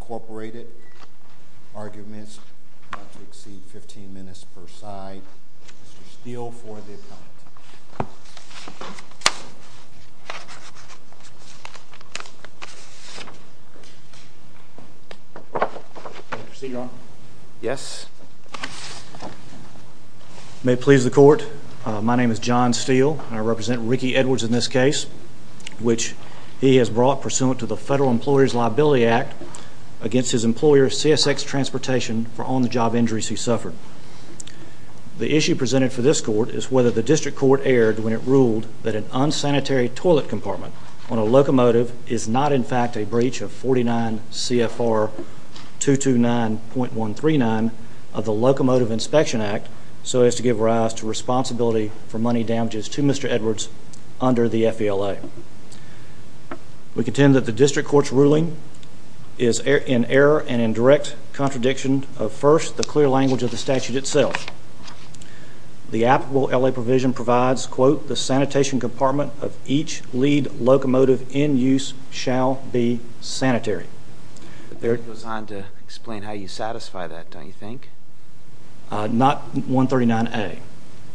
Incorporated. Arguments not to exceed 15 minutes per side. Mr. Steele for the appellant. May it please the court, my name is John Steele. I represent Ricky Edwards in this case, which he has brought pursuant to the Federal Employer's Liability Act against his employer CSX Transportation for on-the-job injuries he suffered. The issue presented for this court is whether the district court erred when it ruled that an unsanitary toilet compartment on a locomotive is not in fact a breach of 49 C.F.R. 229.139 of the Locomotive Inspection Act so as to give rise to responsibility for money damages to Mr. Edwards under the F.E.L.A. We contend that the district court's ruling is in error and in direct contradiction of first, the clear F.E.L.A. provision provides, quote, the sanitation compartment of each lead locomotive in use shall be sanitary. It goes on to explain how you satisfy that, don't you think? Not 139 A.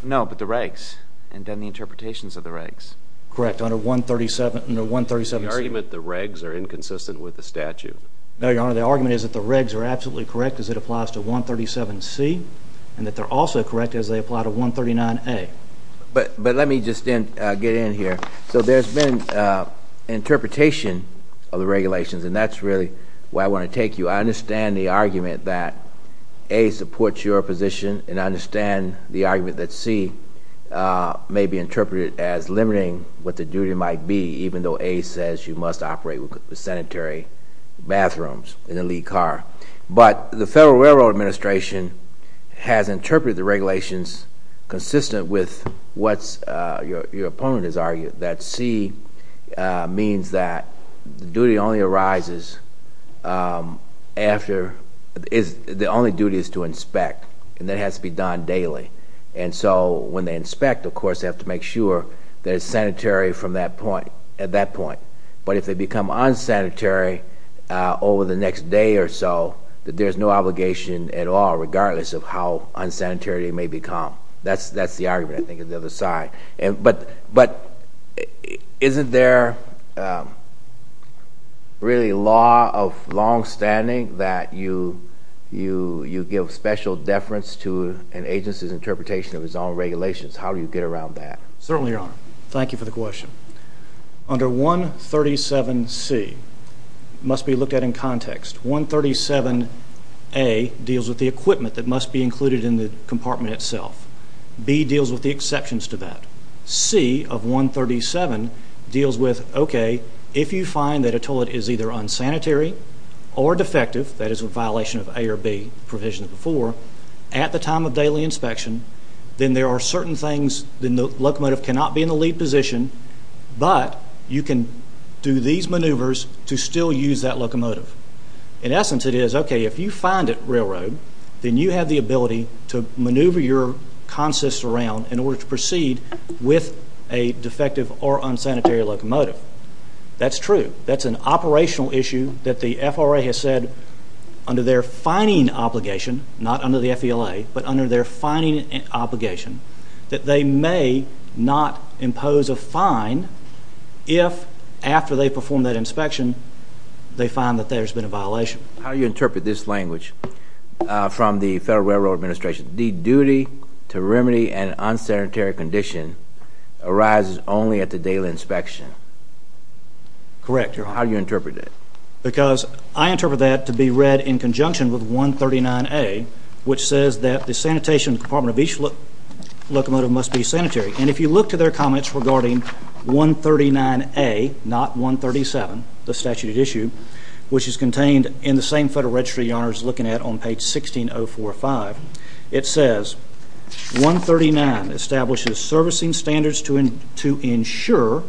No, but the regs, and then the interpretations of the regs. Correct, under 137 C. The argument the regs are inconsistent with the statute. No, Your Honor, the argument is that the regs are absolutely correct as it applies to 137 C. and that they're also correct as they apply to 139 A. But let me just get in here. So there's been interpretation of the regulations, and that's really where I want to take you. I understand the argument that A supports your position, and I understand the argument that C may be interpreted as limiting what the duty might be, even though A says you must operate sanitary bathrooms in a lead car. But the Federal Railroad Administration has interpreted the regulations consistent with what your opponent has argued, that C means that the duty only arises after, the only duty is to inspect, and that has to be done daily. And so when they inspect, of course, they have to make sure that it's sanitary from that point, at that point. But if they become unsanitary over the next day or so, that there's no obligation at all, regardless of how unsanitary it may become. That's the argument, I think, on the other side. But isn't there really a law of longstanding that you give special deference to an agency's interpretation of its own regulations? How do you get around that? Certainly, Your Honor. Thank you for the question. Under 137C, it must be looked at in context. 137A deals with the equipment that must be included in the compartment itself. B deals with the exceptions to that. C of 137 deals with, okay, if you find that a toilet is either unsanitary or defective, that is a violation of A or B provisions before, at the time of daily inspection, then there But you can do these maneuvers to still use that locomotive. In essence, it is, okay, if you find a railroad, then you have the ability to maneuver your consist around in order to proceed with a defective or unsanitary locomotive. That's true. That's an operational issue that the FRA has said under their fining obligation, not under the FELA, but under their fining obligation, that they may not impose a fine if, after they perform that inspection, they find that there's been a violation. How do you interpret this language from the Federal Railroad Administration, the duty to remedy an unsanitary condition arises only at the daily inspection? Correct, Your Honor. How do you interpret it? Because I interpret that to be read in conjunction with 139A, which says that the sanitation compartment of each locomotive must be sanitary. And if you look to their comments regarding 139A, not 137, the statute at issue, which is contained in the same Federal Registry, Your Honor is looking at on page 16045, it says, 139 establishes servicing standards to ensure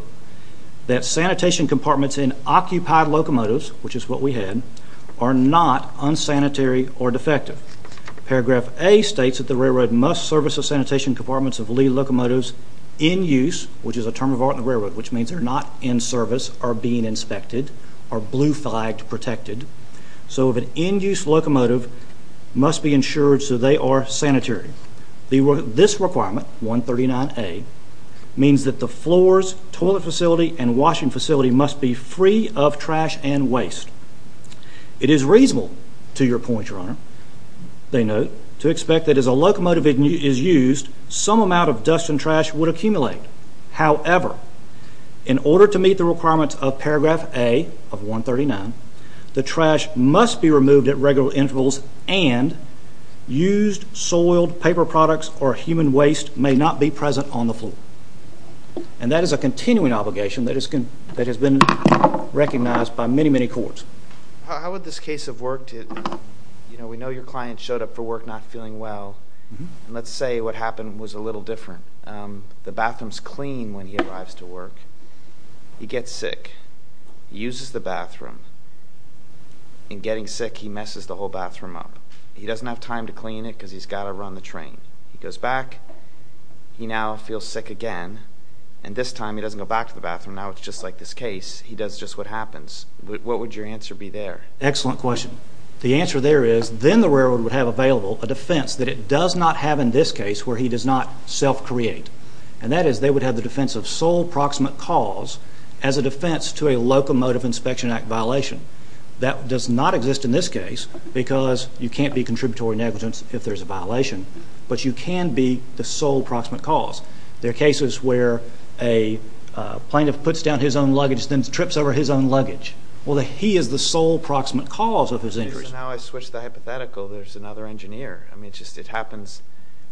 that sanitation compartments in occupied locomotives, which is what we had, are not unsanitary or defective. Paragraph A states that the railroad must service the sanitation compartments of lead locomotives in use, which is a term of art in the railroad, which means they're not in service, are being inspected, are blue flagged, protected. So if an in use locomotive must be insured so they are sanitary. This requirement, 139A, means that the floors, toilet facility, and washing facility must be free of trash and waste. It is reasonable to your point, Your Honor, they note, to expect that as a locomotive is used, some amount of dust and trash would accumulate. However, in order to meet the requirements of paragraph A of 139, the trash must be removed at regular intervals and used soiled paper products or human waste may not be present on the floor. And that is a continuing obligation that has been recognized by many, many courts. How would this case of work, you know, we know your client showed up for work not feeling well and let's say what happened was a little different. The bathroom's clean when he arrives to work. He gets sick. He uses the bathroom. In getting sick, he messes the whole bathroom up. He doesn't have time to clean it because he's got to run the train. He goes back. He now feels sick again. And this time he doesn't go back to the bathroom. Now it's just like this case. He does just what happens. What would your answer be there? Excellent question. The answer there is then the railroad would have available a defense that it does not have in this case where he does not self-create. And that is they would have the defense of sole proximate cause as a defense to a locomotive inspection act violation. That does not exist in this case because you can't be contributory negligence if there's a violation. But you can be the sole proximate cause. There are cases where a plaintiff puts down his own luggage and then trips over his own luggage. Well, he is the sole proximate cause of his injuries. Now I switch the hypothetical. There's another engineer. I mean it just happens.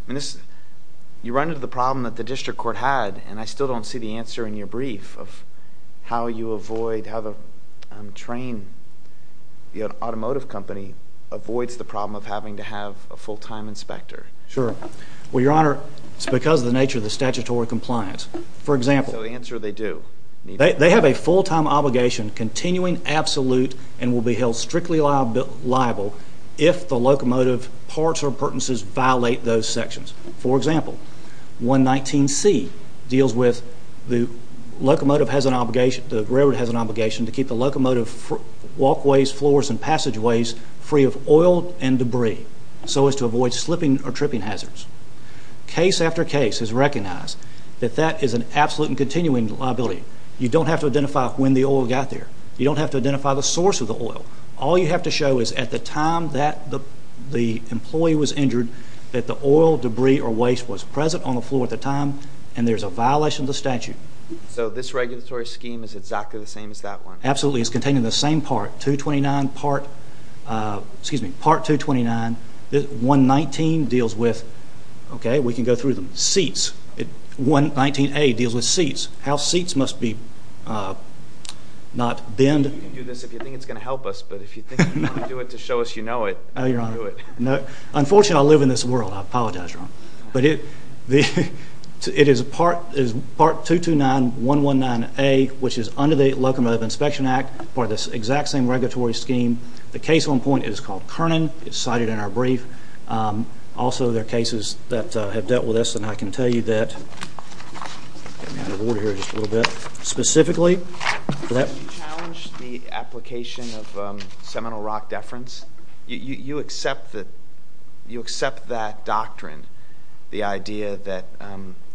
You run into the problem that the district court had and I still don't see the answer in your brief of how you avoid, how the train, the automotive company avoids the problem of having to have a full-time inspector. Sure. Well, your honor, it's because of the nature of the statutory compliance. For example. So the answer they do. They have a full-time obligation continuing absolute and will be held strictly liable if the locomotive parts or appurtenances violate those sections. For example, 119C deals with the locomotive has an obligation, the railroad has an obligation to keep the locomotive walkways, floors and passageways free of oil and debris so as to avoid slipping or tripping hazards. Case after case is recognized that that is an absolute and continuing liability. You don't have to identify when the oil got there. You don't have to identify the source of the oil. All you have to show is at the time that the employee was injured that the oil, debris or waste was present on the floor at the time and there's a violation of the statute. So this regulatory scheme is exactly the same as that one? Absolutely. It's containing the same part. 229 part, excuse me, part 229. 119 deals with, okay, we can go through them. Seats. 119A deals with seats. How seats must be not bend. You can do this if you think it's going to help us, but if you think you can do it to show us you know it, you can't do it. No, unfortunately I live in this world, I apologize, your honor. But it is part 229, 119A, which is under the Locomotive Inspection Act, part of this exact same regulatory scheme. The case on point is called Kernan. It's cited in our brief. Also there are cases that have dealt with this and I can tell you that, let me out of order here just a little bit, specifically for that one. Do you challenge the application of seminal rock deference? You accept that doctrine, the idea that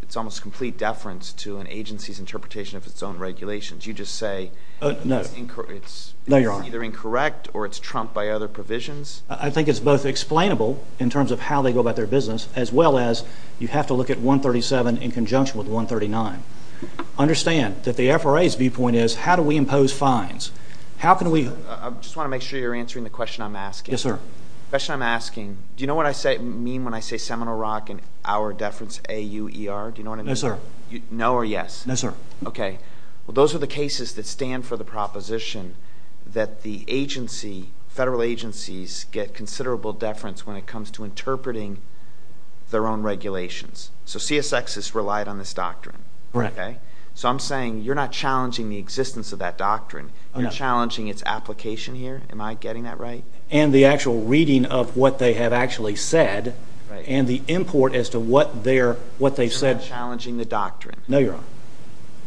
it's almost complete deference to an agency's interpretation of its own regulations. You just say it's either incorrect or it's trumped by other provisions? I think it's both explainable in terms of how they go about their business as well as you have to look at 137 in conjunction with 139. Understand that the FRA's viewpoint is how do we impose fines? How can we... I just want to make sure you're answering the question I'm asking. Yes, sir. The question I'm asking, do you know what I mean when I say seminal rock and our deference A-U-E-R? Do you know what I mean? No, sir. No or yes? No, sir. Okay. Well, those are the cases that stand for the proposition that the agency, federal agencies get considerable deference when it comes to interpreting their own regulations. So CSX has relied on this doctrine. Right. Okay? So I'm saying you're not challenging the existence of that doctrine. You're challenging its application here. Am I getting that right? And the actual reading of what they have actually said and the import as to what they're... What they've said. You're not challenging the doctrine. No, you're not.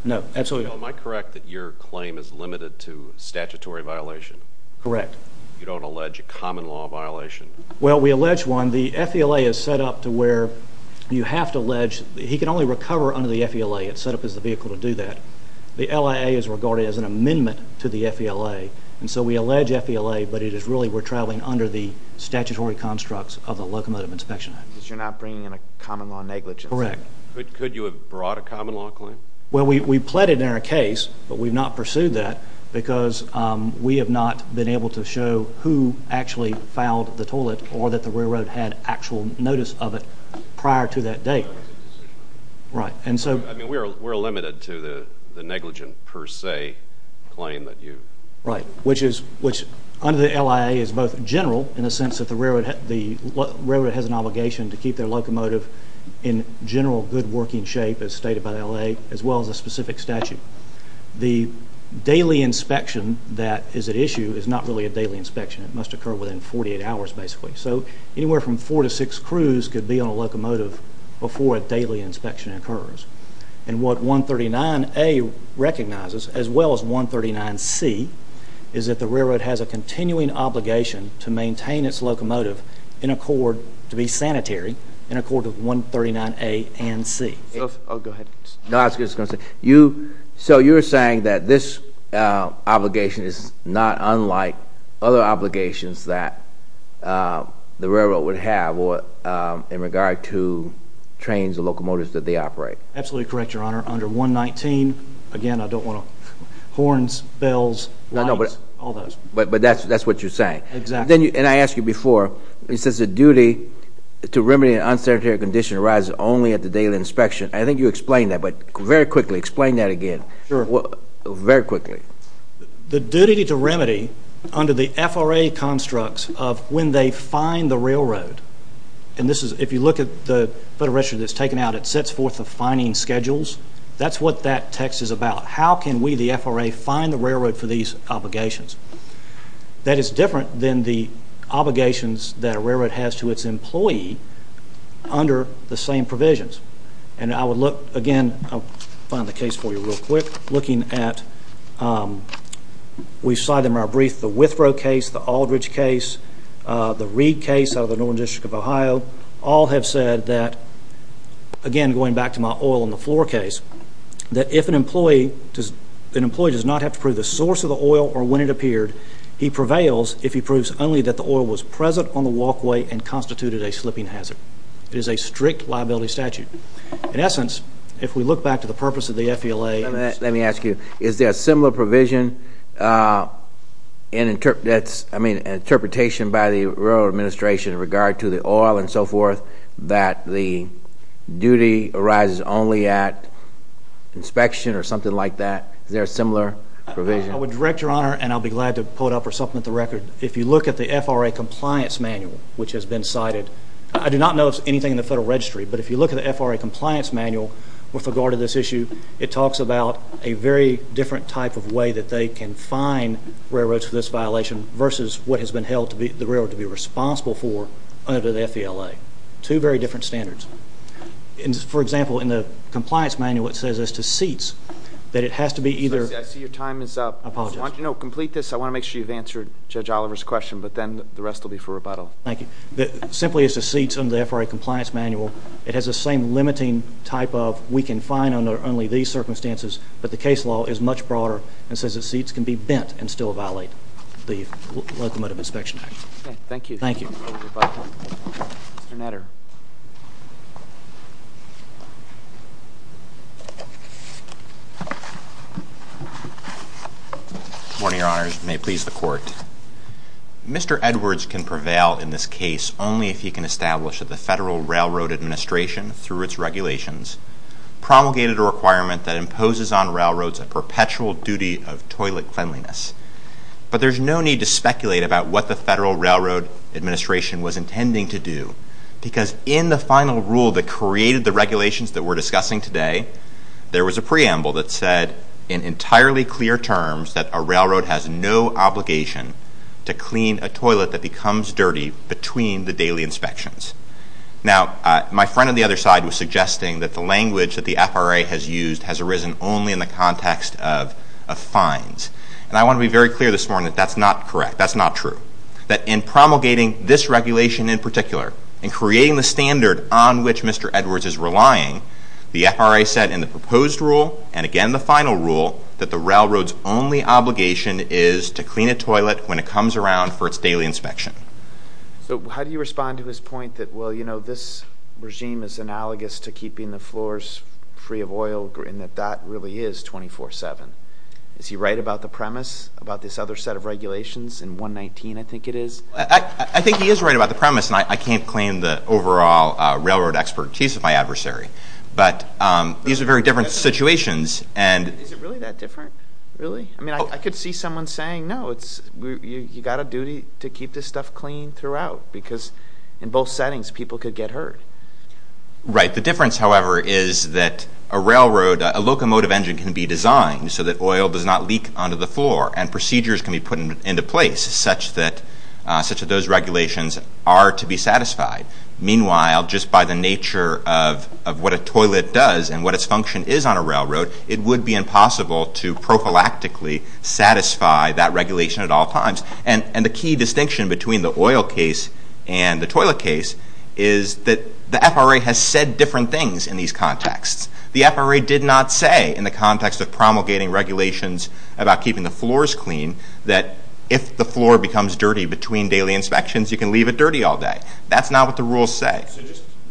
No. Absolutely not. Am I correct that your claim is limited to statutory violation? Correct. You don't allege a common law violation? Well, we allege one. The FELA is set up to where you have to allege... He can only recover under the FELA. It's set up as the vehicle to do that. The LIA is regarded as an amendment to the FELA. And so we allege FELA, but it is really we're traveling under the statutory constructs of the Locomotive Inspection Act. So you're not bringing in a common law negligence? Correct. Could you have brought a common law claim? Well, we've pleaded in our case, but we've not pursued that because we have not been able to show who actually fouled the toilet or that the railroad had actual notice of it prior to that date. Right. I mean, we're limited to the negligent per se claim that you... Right, which under the LIA is both general in the sense that the railroad has an obligation to keep their locomotive in general good working shape as stated by the LIA, as well as a specific statute. The daily inspection that is at issue is not really a daily inspection. It must occur within 48 hours, basically. So anywhere from four to six crews could be on a locomotive before a daily inspection occurs. And what 139A recognizes, as well as 139C, is that the railroad has a continuing obligation to maintain its locomotive in accord, to be sanitary, in accord with 139A and C. Oh, go ahead. No, I was just going to say, so you're saying that this obligation is not unlike other obligations that the railroad would have in regard to trains or locomotives that they operate. Absolutely correct, Your Honor. Under 119, again, I don't want to... Horns, bells, lights, all those. But that's what you're saying. Exactly. And I asked you before, it says the duty to remedy an unsanitary condition arises only at the daily inspection. I think you explained that, but very quickly, explain that again. Sure. Very quickly. The duty to remedy, under the FRA constructs of when they fine the railroad, and this is, if you look at the Federal Register that's taken out, it sets forth the fining schedules. That's what that text is about. How can we, the FRA, fine the railroad for these obligations? That is different than the obligations that a railroad has to its employee under the same provisions. And I would look, again, I'll find the case for you real quick, looking at... We cite in our brief the Withrow case, the Aldridge case, the Reid case out of the Northern District of Ohio, all have said that, again, going back to my oil on the floor case, that if an employee does not have to prove the source of the oil or when it appeared, he prevails if he proves only that the oil was present on the walkway and constituted a slipping hazard. It is a strict liability statute. In essence, if we look back to the purpose of the FELA... Let me ask you, is there a similar provision, an interpretation by the railroad administration in regard to the oil and so forth, that the duty arises only at inspection or something like that? Is there a similar provision? I would direct your honor, and I'll be glad to pull it up or something at the record, if you look at the FRA compliance manual, which has been cited. I do not know of anything in the Federal Registry, but if you look at the FRA compliance manual with regard to this issue, it talks about a very different type of way that they can fine railroads for this violation versus what has been held the railroad to be responsible for under the FELA. Two very different standards. For example, in the compliance manual, it says as to seats that it has to be either... I see your time is up. I apologize. No, complete this. I want to make sure you've answered Judge Oliver's question, but then the rest will be for rebuttal. Thank you. Simply as to seats under the FRA compliance manual, it has the same limiting type of we can fine under only these circumstances, but the case law is much broader and says that seats can be bent and still violate the Locomotive Inspection Act. Thank you. Thank you. Mr. Netter. Good morning, Your Honors. May it please the Court. Mr. Edwards can prevail in this case only if he can establish that the Federal Railroad Administration, through its regulations, promulgated a requirement that imposes on railroads a perpetual duty of toilet cleanliness. But there's no need to speculate about what the Federal Railroad Administration was intending to do, because in the final rule that created the regulations that we're discussing today, there was a preamble that said in entirely clear terms that a railroad has no obligation to clean a toilet that becomes dirty between the daily inspections. Now my friend on the other side was suggesting that the language that the FRA has used has arisen only in the context of fines, and I want to be very clear this morning that that's not correct. That's not true. That in promulgating this regulation in particular, in creating the standard on which Mr. Edwards is relying, the FRA said in the proposed rule, and again the final rule, that the railroad's only obligation is to clean a toilet when it comes around for its daily inspection. So how do you respond to his point that, well, you know, this regime is analogous to keeping the floors free of oil, and that that really is 24-7? Is he right about the premise about this other set of regulations in 119, I think it is? I think he is right about the premise, and I can't claim the overall railroad expertise of my adversary. But these are very different situations, and – Is it really that different? Really? I mean, I could see someone saying, no, it's – you've got a duty to keep this stuff clean throughout, because in both settings, people could get hurt. Right. The difference, however, is that a railroad – a locomotive engine can be designed so that oil does not leak onto the floor, and procedures can be put into place such that those regulations are to be satisfied. Meanwhile, just by the nature of what a toilet does and what its function is on a railroad, it would be impossible to prophylactically satisfy that regulation at all times. And the key distinction between the oil case and the toilet case is that the FRA has said different things in these contexts. The FRA did not say in the context of promulgating regulations about keeping the floors clean that if the floor becomes dirty between daily inspections, you can leave it dirty all day. That's not what the rules say.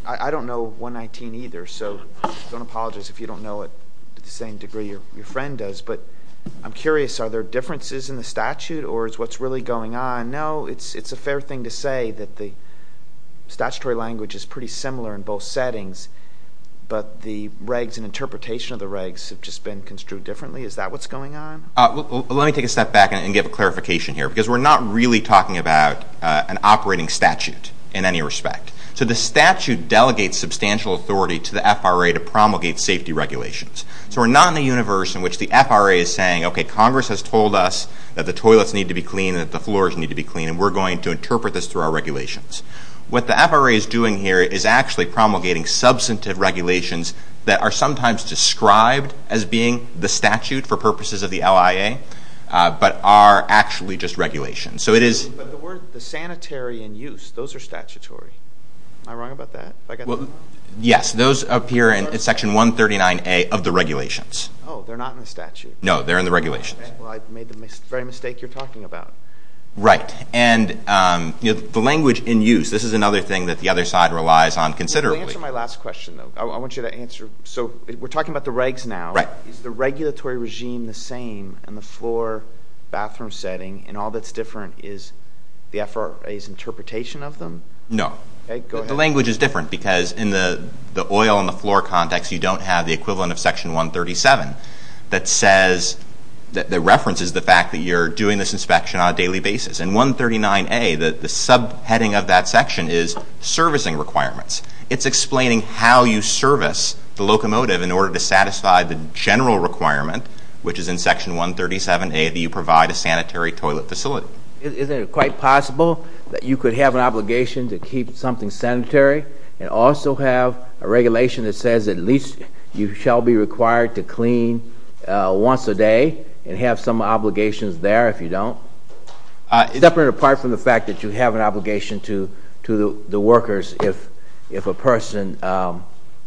I don't know 119 either, so I don't apologize if you don't know it to the same degree your friend does. But I'm curious, are there differences in the statute, or is what's really going on? I know it's a fair thing to say that the statutory language is pretty similar in both settings, but the regs and interpretation of the regs have just been construed differently. Is that what's going on? Let me take a step back and give a clarification here, because we're not really talking about an operating statute in any respect. So the statute delegates substantial authority to the FRA to promulgate safety regulations. So we're not in a universe in which the FRA is saying, okay, Congress has told us that the toilets need to be clean and that the floors need to be clean, and we're going to interpret this through our regulations. What the FRA is doing here is actually promulgating substantive regulations that are sometimes described as being the statute for purposes of the LIA, but are actually just regulations. So it is... But the word, the sanitary and use, those are statutory. Am I wrong about that? Yes, those appear in Section 139A of the regulations. Oh, they're not in the statute? No, they're in the regulations. Well, I've made the very mistake you're talking about. Right. And the language in use, this is another thing that the other side relies on considerably. Let me answer my last question, though. I want you to answer. So we're talking about the regs now. Is the regulatory regime the same in the floor, bathroom setting, and all that's different is the FRA's interpretation of them? No. Okay, go ahead. The language is different, because in the oil and the floor context, you don't have the equivalent of Section 137 that says, that references the fact that you're doing this inspection on a daily basis. In 139A, the subheading of that section is servicing requirements. It's explaining how you service the locomotive in order to satisfy the general requirement, which is in Section 137A, that you provide a sanitary toilet facility. Is it quite possible that you could have an obligation to keep something sanitary and also have a regulation that says at least you shall be required to clean once a day and have some obligations there if you don't? It's definitely apart from the fact that you have an obligation to the workers if a person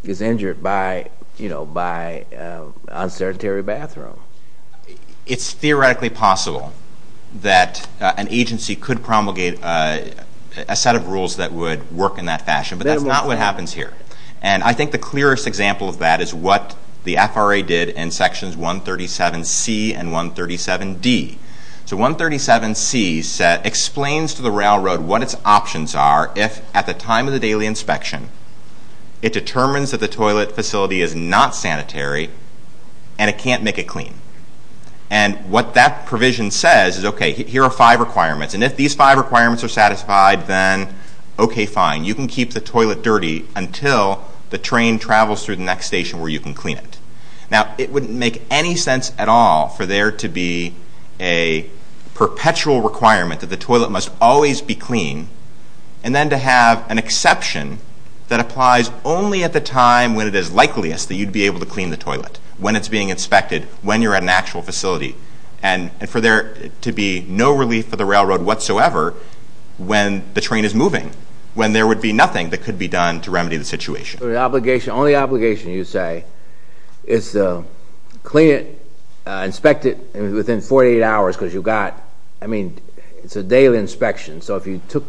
is injured by, you know, by an unsanitary bathroom. It's theoretically possible that an agency could promulgate a set of rules that would work in that fashion, but that's not what happens here. And I think the clearest example of that is what the FRA did in Sections 137C and 137D. So 137C explains to the railroad what its options are if, at the time of the daily inspection, it determines that the toilet facility is not sanitary and it can't make it clean. And what that provision says is, okay, here are five requirements, and if these five requirements are satisfied, then okay, fine. You can keep the toilet dirty until the train travels through the next station where you can clean it. Now, it wouldn't make any sense at all for there to be a perpetual requirement that the toilet must always be clean and then to have an exception that applies only at the time when it is likeliest that you'd be able to clean the toilet, when it's being inspected, when you're at an actual facility. And for there to be no relief for the railroad whatsoever when the train is moving, when there would be nothing that could be done to remedy the situation. Only obligation, you say, is to clean it, inspect it within 48 hours, because you've got, I mean, it's a daily inspection. So if you took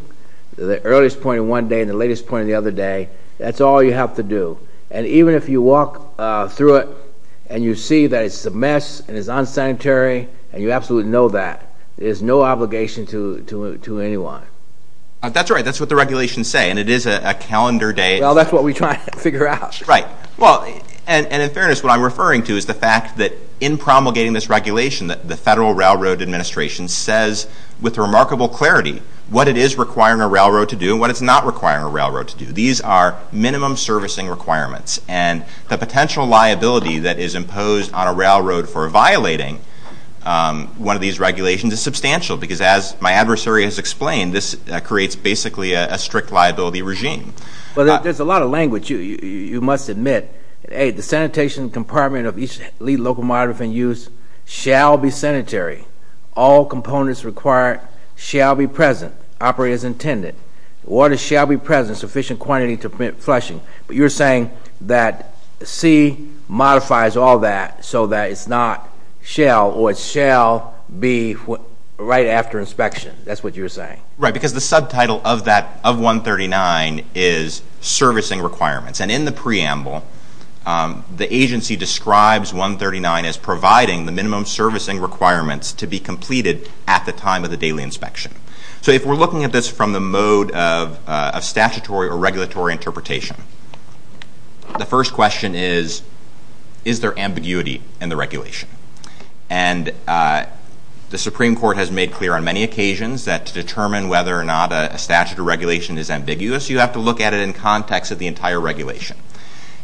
the earliest point in one day and the latest point in the other day, that's all you have to do. And even if you walk through it and you see that it's a mess and it's unsanitary and you absolutely know that, there's no obligation to anyone. That's right. That's what the regulations say. And it is a calendar day. Well, that's what we try to figure out. Right. Well, and in fairness, what I'm referring to is the fact that in promulgating this regulation, that the Federal Railroad Administration says with remarkable clarity what it is requiring a railroad to do and what it's not requiring a railroad to do. These are minimum servicing requirements. And the potential liability that is imposed on a railroad for violating one of these regulations is substantial, because as my adversary has explained, this creates basically a strict liability regime. Well, there's a lot of language. You must admit, hey, the sanitation compartment of each lead locomotive in use shall be sanitary. All components required shall be present, operators intended. Water shall be present, sufficient quantity to prevent flushing. But you're saying that C modifies all that so that it's not shall or it shall be right after inspection. That's what you're saying. Right. Because the subtitle of that, of 139, is servicing requirements. And in the preamble, the agency describes 139 as providing the minimum servicing requirements to be completed at the time of the daily inspection. So if we're looking at this from the mode of statutory or regulatory interpretation, the first question is, is there ambiguity in the regulation? And the Supreme Court has made clear on many occasions that to determine whether or not a statute or regulation is ambiguous, you have to look at it in context of the entire regulation.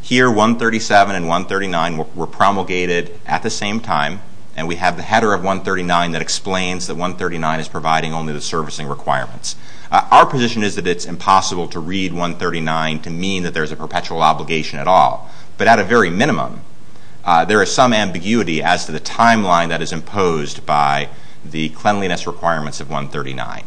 Here, 137 and 139 were promulgated at the same time. And we have the header of 139 that explains that 139 is providing only the servicing requirements. Our position is that it's impossible to read 139 to mean that there's a perpetual obligation at all. But at a very minimum, there is some ambiguity as to the timeline that is imposed by the cleanliness requirements of 139.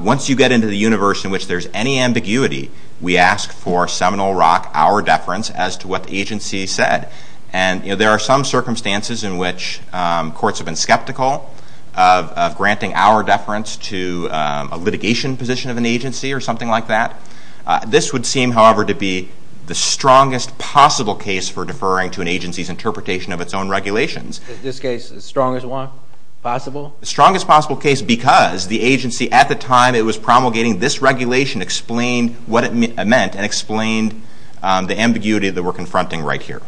Once you get into the universe in which there's any ambiguity, we ask for Seminole Rock, our deference as to what the agency said. And there are some circumstances in which courts have been skeptical of granting our deference to a litigation position of an agency or something like that. This would seem, however, to be the strongest possible case for deferring to an agency's interpretation of its own regulations. Is this case the strongest one possible? The strongest possible case because the agency at the time it was promulgating this regulation explained what it meant and explained the ambiguity that we're confronting right here.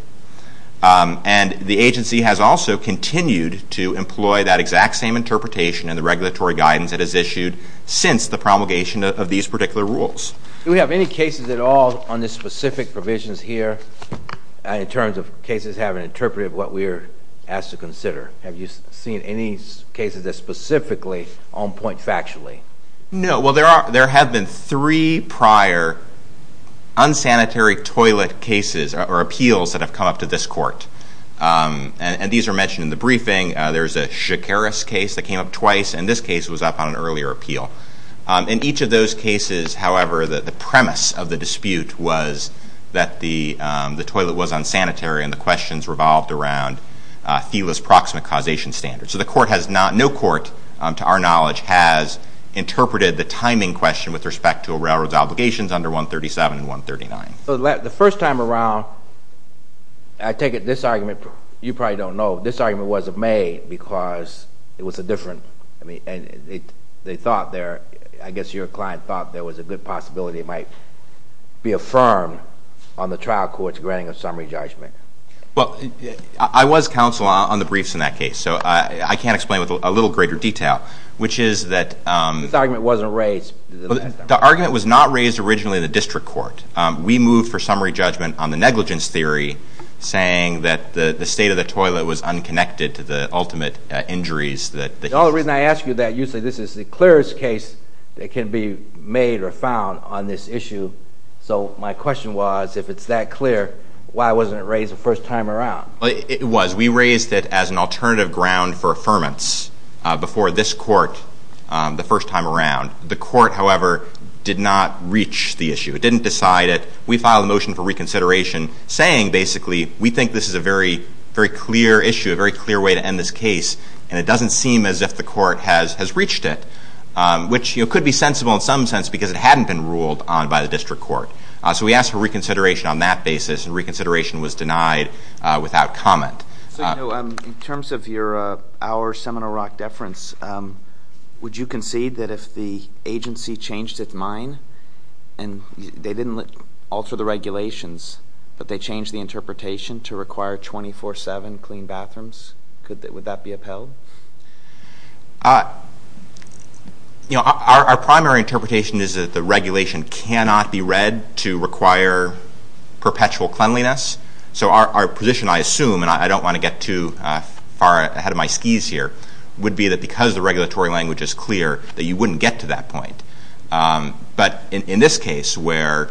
And the agency has also continued to employ that exact same interpretation in the regulatory guidance that is issued since the promulgation of these particular rules. Do we have any cases at all on the specific provisions here in terms of cases having interpreted what we're asked to consider? Have you seen any cases that specifically on point factually? No. Well, there have been three prior unsanitary toilet cases or appeals that have come up to this court. And these are mentioned in the briefing. There's a Shakaris case that came up twice, and this case was up on an earlier appeal. In each of those cases, however, the premise of the dispute was that the toilet was unsanitary and the questions revolved around Thela's proximate causation standards. So the court has not, no court to our knowledge, has interpreted the timing question with respect to a railroad's obligations under 137 and 139. The first time around, I take it this argument, you probably don't know, this argument wasn't made because it was a different, I mean, and they thought there, I guess your client thought there was a good possibility it might be affirmed on the trial court's granting of summary judgment. Well, I was counsel on the briefs in that case, so I can't explain it with a little greater detail, which is that- This argument wasn't raised. The argument was not raised originally in the district court. We moved for summary judgment on the negligence theory, saying that the state of the toilet was unconnected to the ultimate injuries that- The only reason I ask you that, usually this is the clearest case that can be made or found on this issue. So my question was, if it's that clear, why wasn't it raised the first time around? It was. We raised it as an alternative ground for affirmance before this court the first time around. The court, however, did not reach the issue. It didn't decide it. We filed a motion for reconsideration saying, basically, we think this is a very clear issue, a very clear way to end this case, and it doesn't seem as if the court has reached it, which could be sensible in some sense because it hadn't been ruled on by the district court. So we asked for reconsideration on that basis, and reconsideration was denied without comment. So, in terms of our Seminole Rock deference, would you concede that if the agency changed its mind, and they didn't alter the regulations, but they changed the interpretation to require 24-7 clean bathrooms, would that be upheld? Our primary interpretation is that the regulation cannot be read to require perpetual cleanliness. So our position, I assume, and I don't want to get too far ahead of my skis here, would be that because the regulatory language is clear, that you wouldn't get to that point. But in this case, where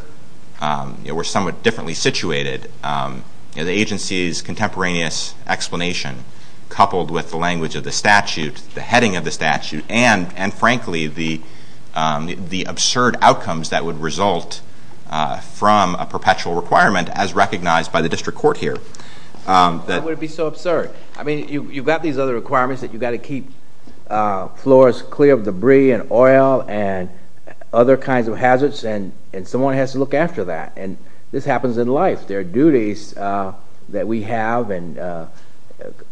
we're somewhat differently situated, the agency's contemporaneous explanation coupled with the language of the statute, the heading of the statute, and frankly, the absurd outcomes that would result from a perpetual requirement as recognized by the district court here. Why would it be so absurd? I mean, you've got these other requirements that you've got to keep floors clear of debris and oil and other kinds of hazards, and someone has to look after that. And this happens in life. There are duties that we have and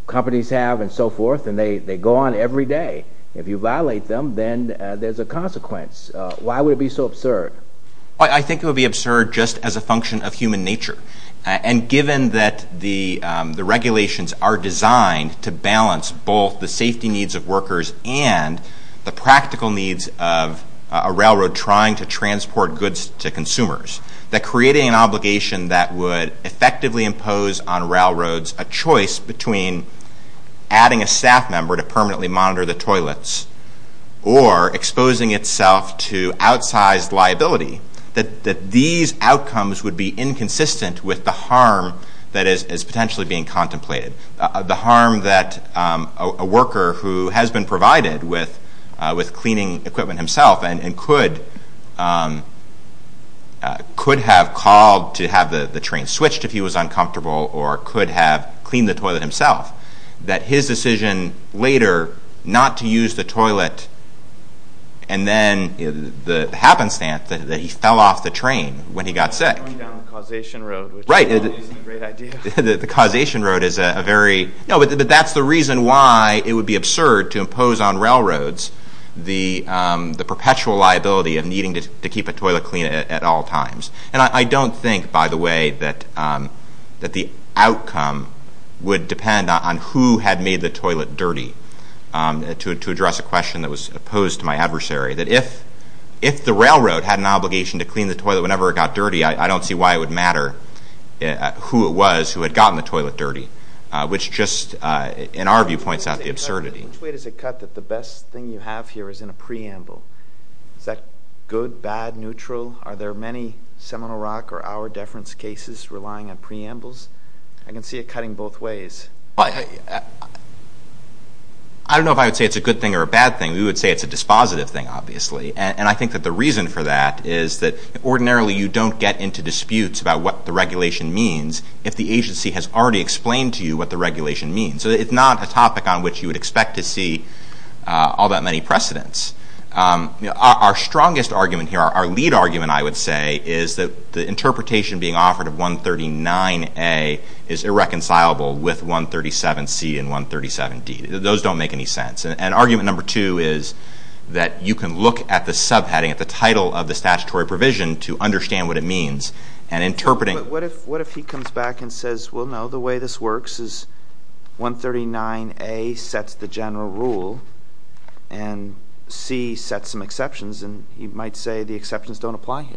companies have and so forth, and they go on every day. If you violate them, then there's a consequence. Why would it be so absurd? I think it would be absurd just as a function of human nature. And given that the regulations are designed to balance both the safety needs of workers and the practical needs of a railroad trying to transport goods to consumers, that creating an obligation that would effectively impose on railroads a choice between adding a staff member to permanently monitor the toilets or exposing itself to outsized liability, that these outcomes would be inconsistent with the harm that is potentially being contemplated. The harm that a worker who has been provided with cleaning equipment himself and could have called to have the train switched if he was uncomfortable or could have cleaned the toilet himself, that his decision later not to use the toilet and then the happenstance that he fell off the train when he got sick. Going down the causation road, which is a great idea. The causation road is a very – no, but that's the reason why it would be absurd to impose on railroads the perpetual liability of needing to keep a toilet clean at all times. And I don't think, by the way, that the outcome would depend on who had made the toilet dirty, to address a question that was posed to my adversary, that if the railroad had an obligation to clean the toilet whenever it got dirty, I don't see why it would matter who it was who had gotten the toilet dirty, which just, in our view, points out the absurdity. Which way does it cut that the best thing you have here is in a preamble? Is that good, bad, neutral? Are there many Seminole Rock or our deference cases relying on preambles? I can see it cutting both ways. I don't know if I would say it's a good thing or a bad thing. We would say it's a dispositive thing, obviously. And I think that the reason for that is that ordinarily you don't get into disputes about what the regulation means if the agency has already explained to you what the regulation means. And so it's not a topic on which you would expect to see all that many precedents. Our strongest argument here, our lead argument, I would say, is that the interpretation being offered of 139A is irreconcilable with 137C and 137D. Those don't make any sense. And argument number two is that you can look at the subheading, at the title of the statutory provision to understand what it means and interpret it. But what if he comes back and says, well, no, the way this works is 139A sets the general rule and C sets some exceptions, and he might say the exceptions don't apply here.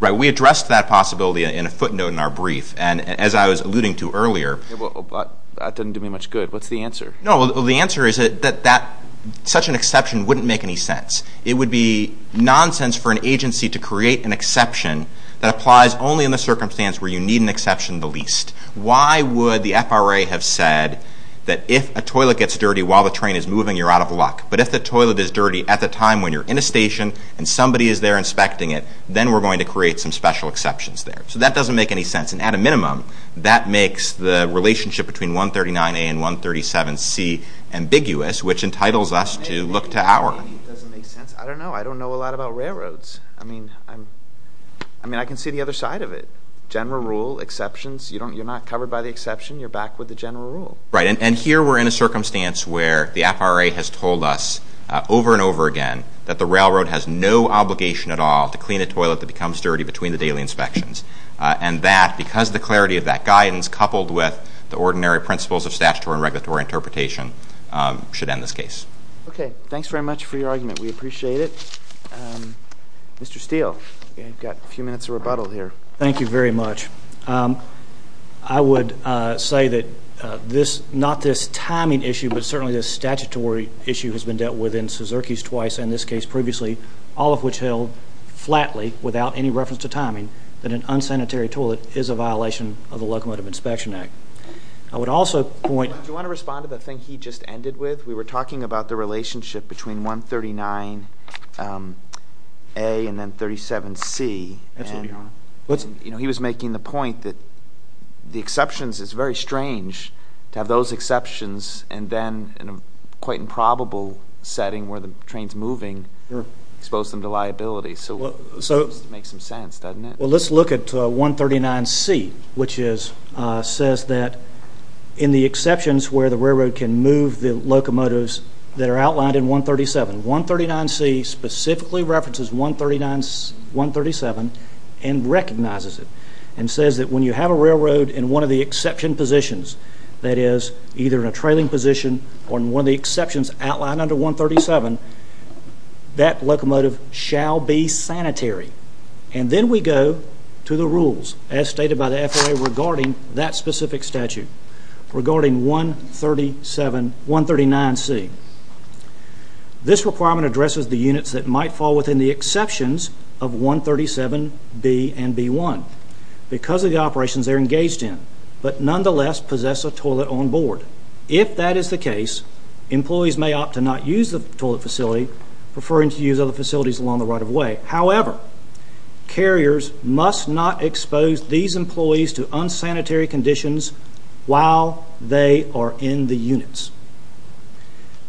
Right. We addressed that possibility in a footnote in our brief. And as I was alluding to earlier That doesn't do me much good. What's the answer? No, the answer is that such an exception wouldn't make any sense. It would be nonsense for an agency to create an exception that applies only in the circumstance where you need an exception the least. Why would the FRA have said that if a toilet gets dirty while the train is moving, you're out of luck? But if the toilet is dirty at the time when you're in a station and somebody is there inspecting it, then we're going to create some special exceptions there. So that doesn't make any sense. And at a minimum, that makes the relationship between 139A and 137C ambiguous, which entitles us to look to our It doesn't make sense. I don't know. I don't know a lot about railroads. I mean, I can see the other side of it. General rule, exceptions, you're not covered by the exception, you're back with the general rule. Right. And here we're in a circumstance where the FRA has told us over and over again that the railroad has no obligation at all to clean a toilet that becomes dirty between the daily inspections. And that, because of the clarity of that guidance coupled with the ordinary principles of statutory and regulatory interpretation, should end this case. Okay. Thank you. Thanks very much for your argument. We appreciate it. Mr. Steele, you've got a few minutes of rebuttal here. Thank you very much. I would say that this, not this timing issue, but certainly this statutory issue has been dealt with in Suzerki's twice and this case previously, all of which held flatly without any reference to timing, that an unsanitary toilet is a violation of the Locomotive Inspection Act. I would also point Do you want to respond to the thing he just ended with? We were talking about the relationship between 139A and then 37C. He was making the point that the exceptions, it's very strange to have those exceptions and then in a quite improbable setting where the train's moving, expose them to liability. So it makes some sense, doesn't it? Well, let's look at 139C, which says that in the exceptions where the railroad can move the locomotives that are outlined in 137, 139C specifically references 137 and recognizes it and says that when you have a railroad in one of the exception positions, that is either in a trailing position or in one of the exceptions outlined under 137, that locomotive shall be sanitary. And then we go to the rules as stated by the FAA regarding that specific statute, regarding 137, 139C. This requirement addresses the units that might fall within the exceptions of 137B and B1 because of the operations they're engaged in, but nonetheless possess a toilet on board. If that is the case, employees may opt to not use the toilet facility, preferring to use other facilities along the right of way, however, carriers must not expose these employees to unsanitary conditions while they are in the units.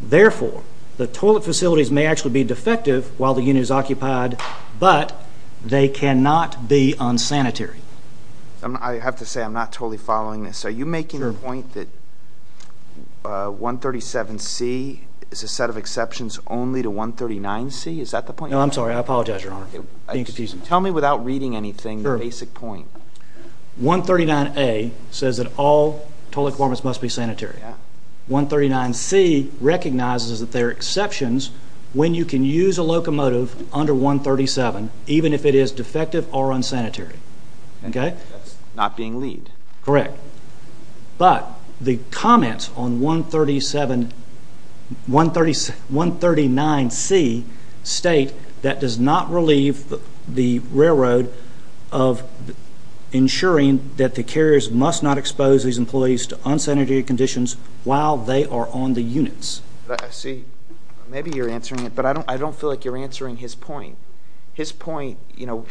Therefore, the toilet facilities may actually be defective while the unit is occupied, but they cannot be unsanitary. I have to say I'm not totally following this. Are you making the point that 137C is a set of exceptions only to 139C? Is that the point? No, I'm sorry. I apologize, Your Honor. You're confusing me. Tell me without reading anything the basic point. 139A says that all toilet compartments must be sanitary. 139C recognizes that there are exceptions when you can use a locomotive under 137, even if it is defective or unsanitary. Okay? That's not being lead. Correct. But the comments on 139C state that does not relieve the railroad of ensuring that the carriers must not expose these employees to unsanitary conditions while they are on the units. See, maybe you're answering it, but I don't feel like you're answering his point. His point, you know,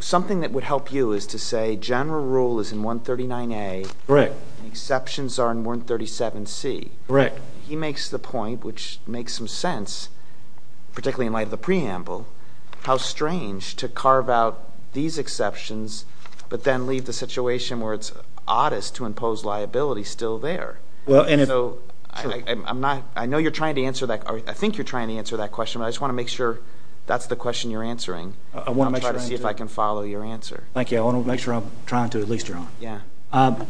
something that would help you is to say general rule is in 139A. Correct. Exceptions are in 137C. Correct. He makes the point, which makes some sense, particularly in light of the preamble, how strange to carve out these exceptions, but then leave the situation where it's oddest to impose liability still there. So I know you're trying to answer that, or I think you're trying to answer that question, but I just want to make sure that's the question you're answering. I want to try to see if I can follow your answer. Thank you. I want to make sure I'm trying to, at least, Your Honor.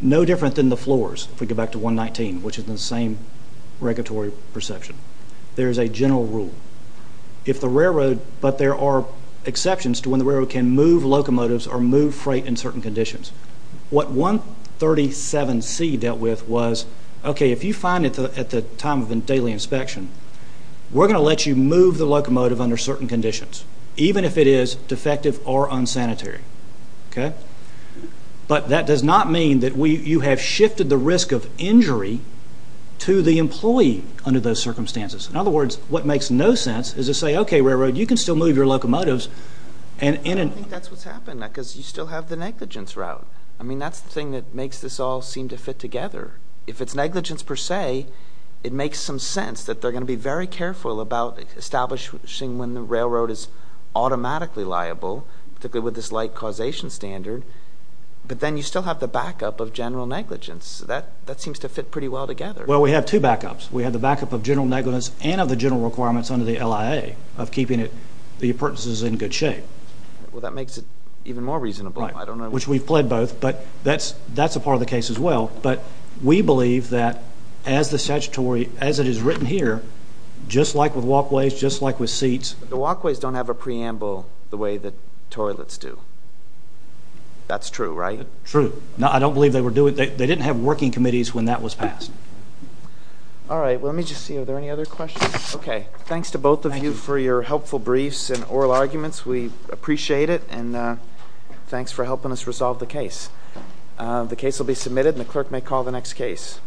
No different than the floors, if we go back to 119, which is the same regulatory perception. There is a general rule. If the railroad, but there are exceptions to when the railroad can move locomotives or move freight in certain conditions. What 137C dealt with was, okay, if you find it at the time of a daily inspection, we're going to let you move the locomotive under certain conditions, even if it is defective or unsanitary, okay? But that does not mean that you have shifted the risk of injury to the employee under those circumstances. In other words, what makes no sense is to say, okay, railroad, you can still move your locomotives. I don't think that's what's happened, because you still have the negligence route. I mean, that's the thing that makes this all seem to fit together. If it's negligence, per se, it makes some sense that they're going to be very careful about establishing when the railroad is automatically liable, particularly with this light causation standard, but then you still have the backup of general negligence. That seems to fit pretty well together. Well, we have two backups. We have the backup of general negligence and of the general requirements under the LIA of keeping the appurtenances in good shape. Well, that makes it even more reasonable. Right, which we've pled both, but that's a part of the case as well. But we believe that as the statutory, as it is written here, just like with walkways, just like with seats... The walkways don't have a preamble the way that toilets do. That's true, right? True. I don't believe they were doing... They didn't have working committees when that was passed. All right. Well, let me just see. Are there any other questions? Okay. Thanks to both of you for your helpful briefs and oral arguments. We appreciate it, and thanks for helping us resolve the case. The case will be submitted, and the clerk may call the next case.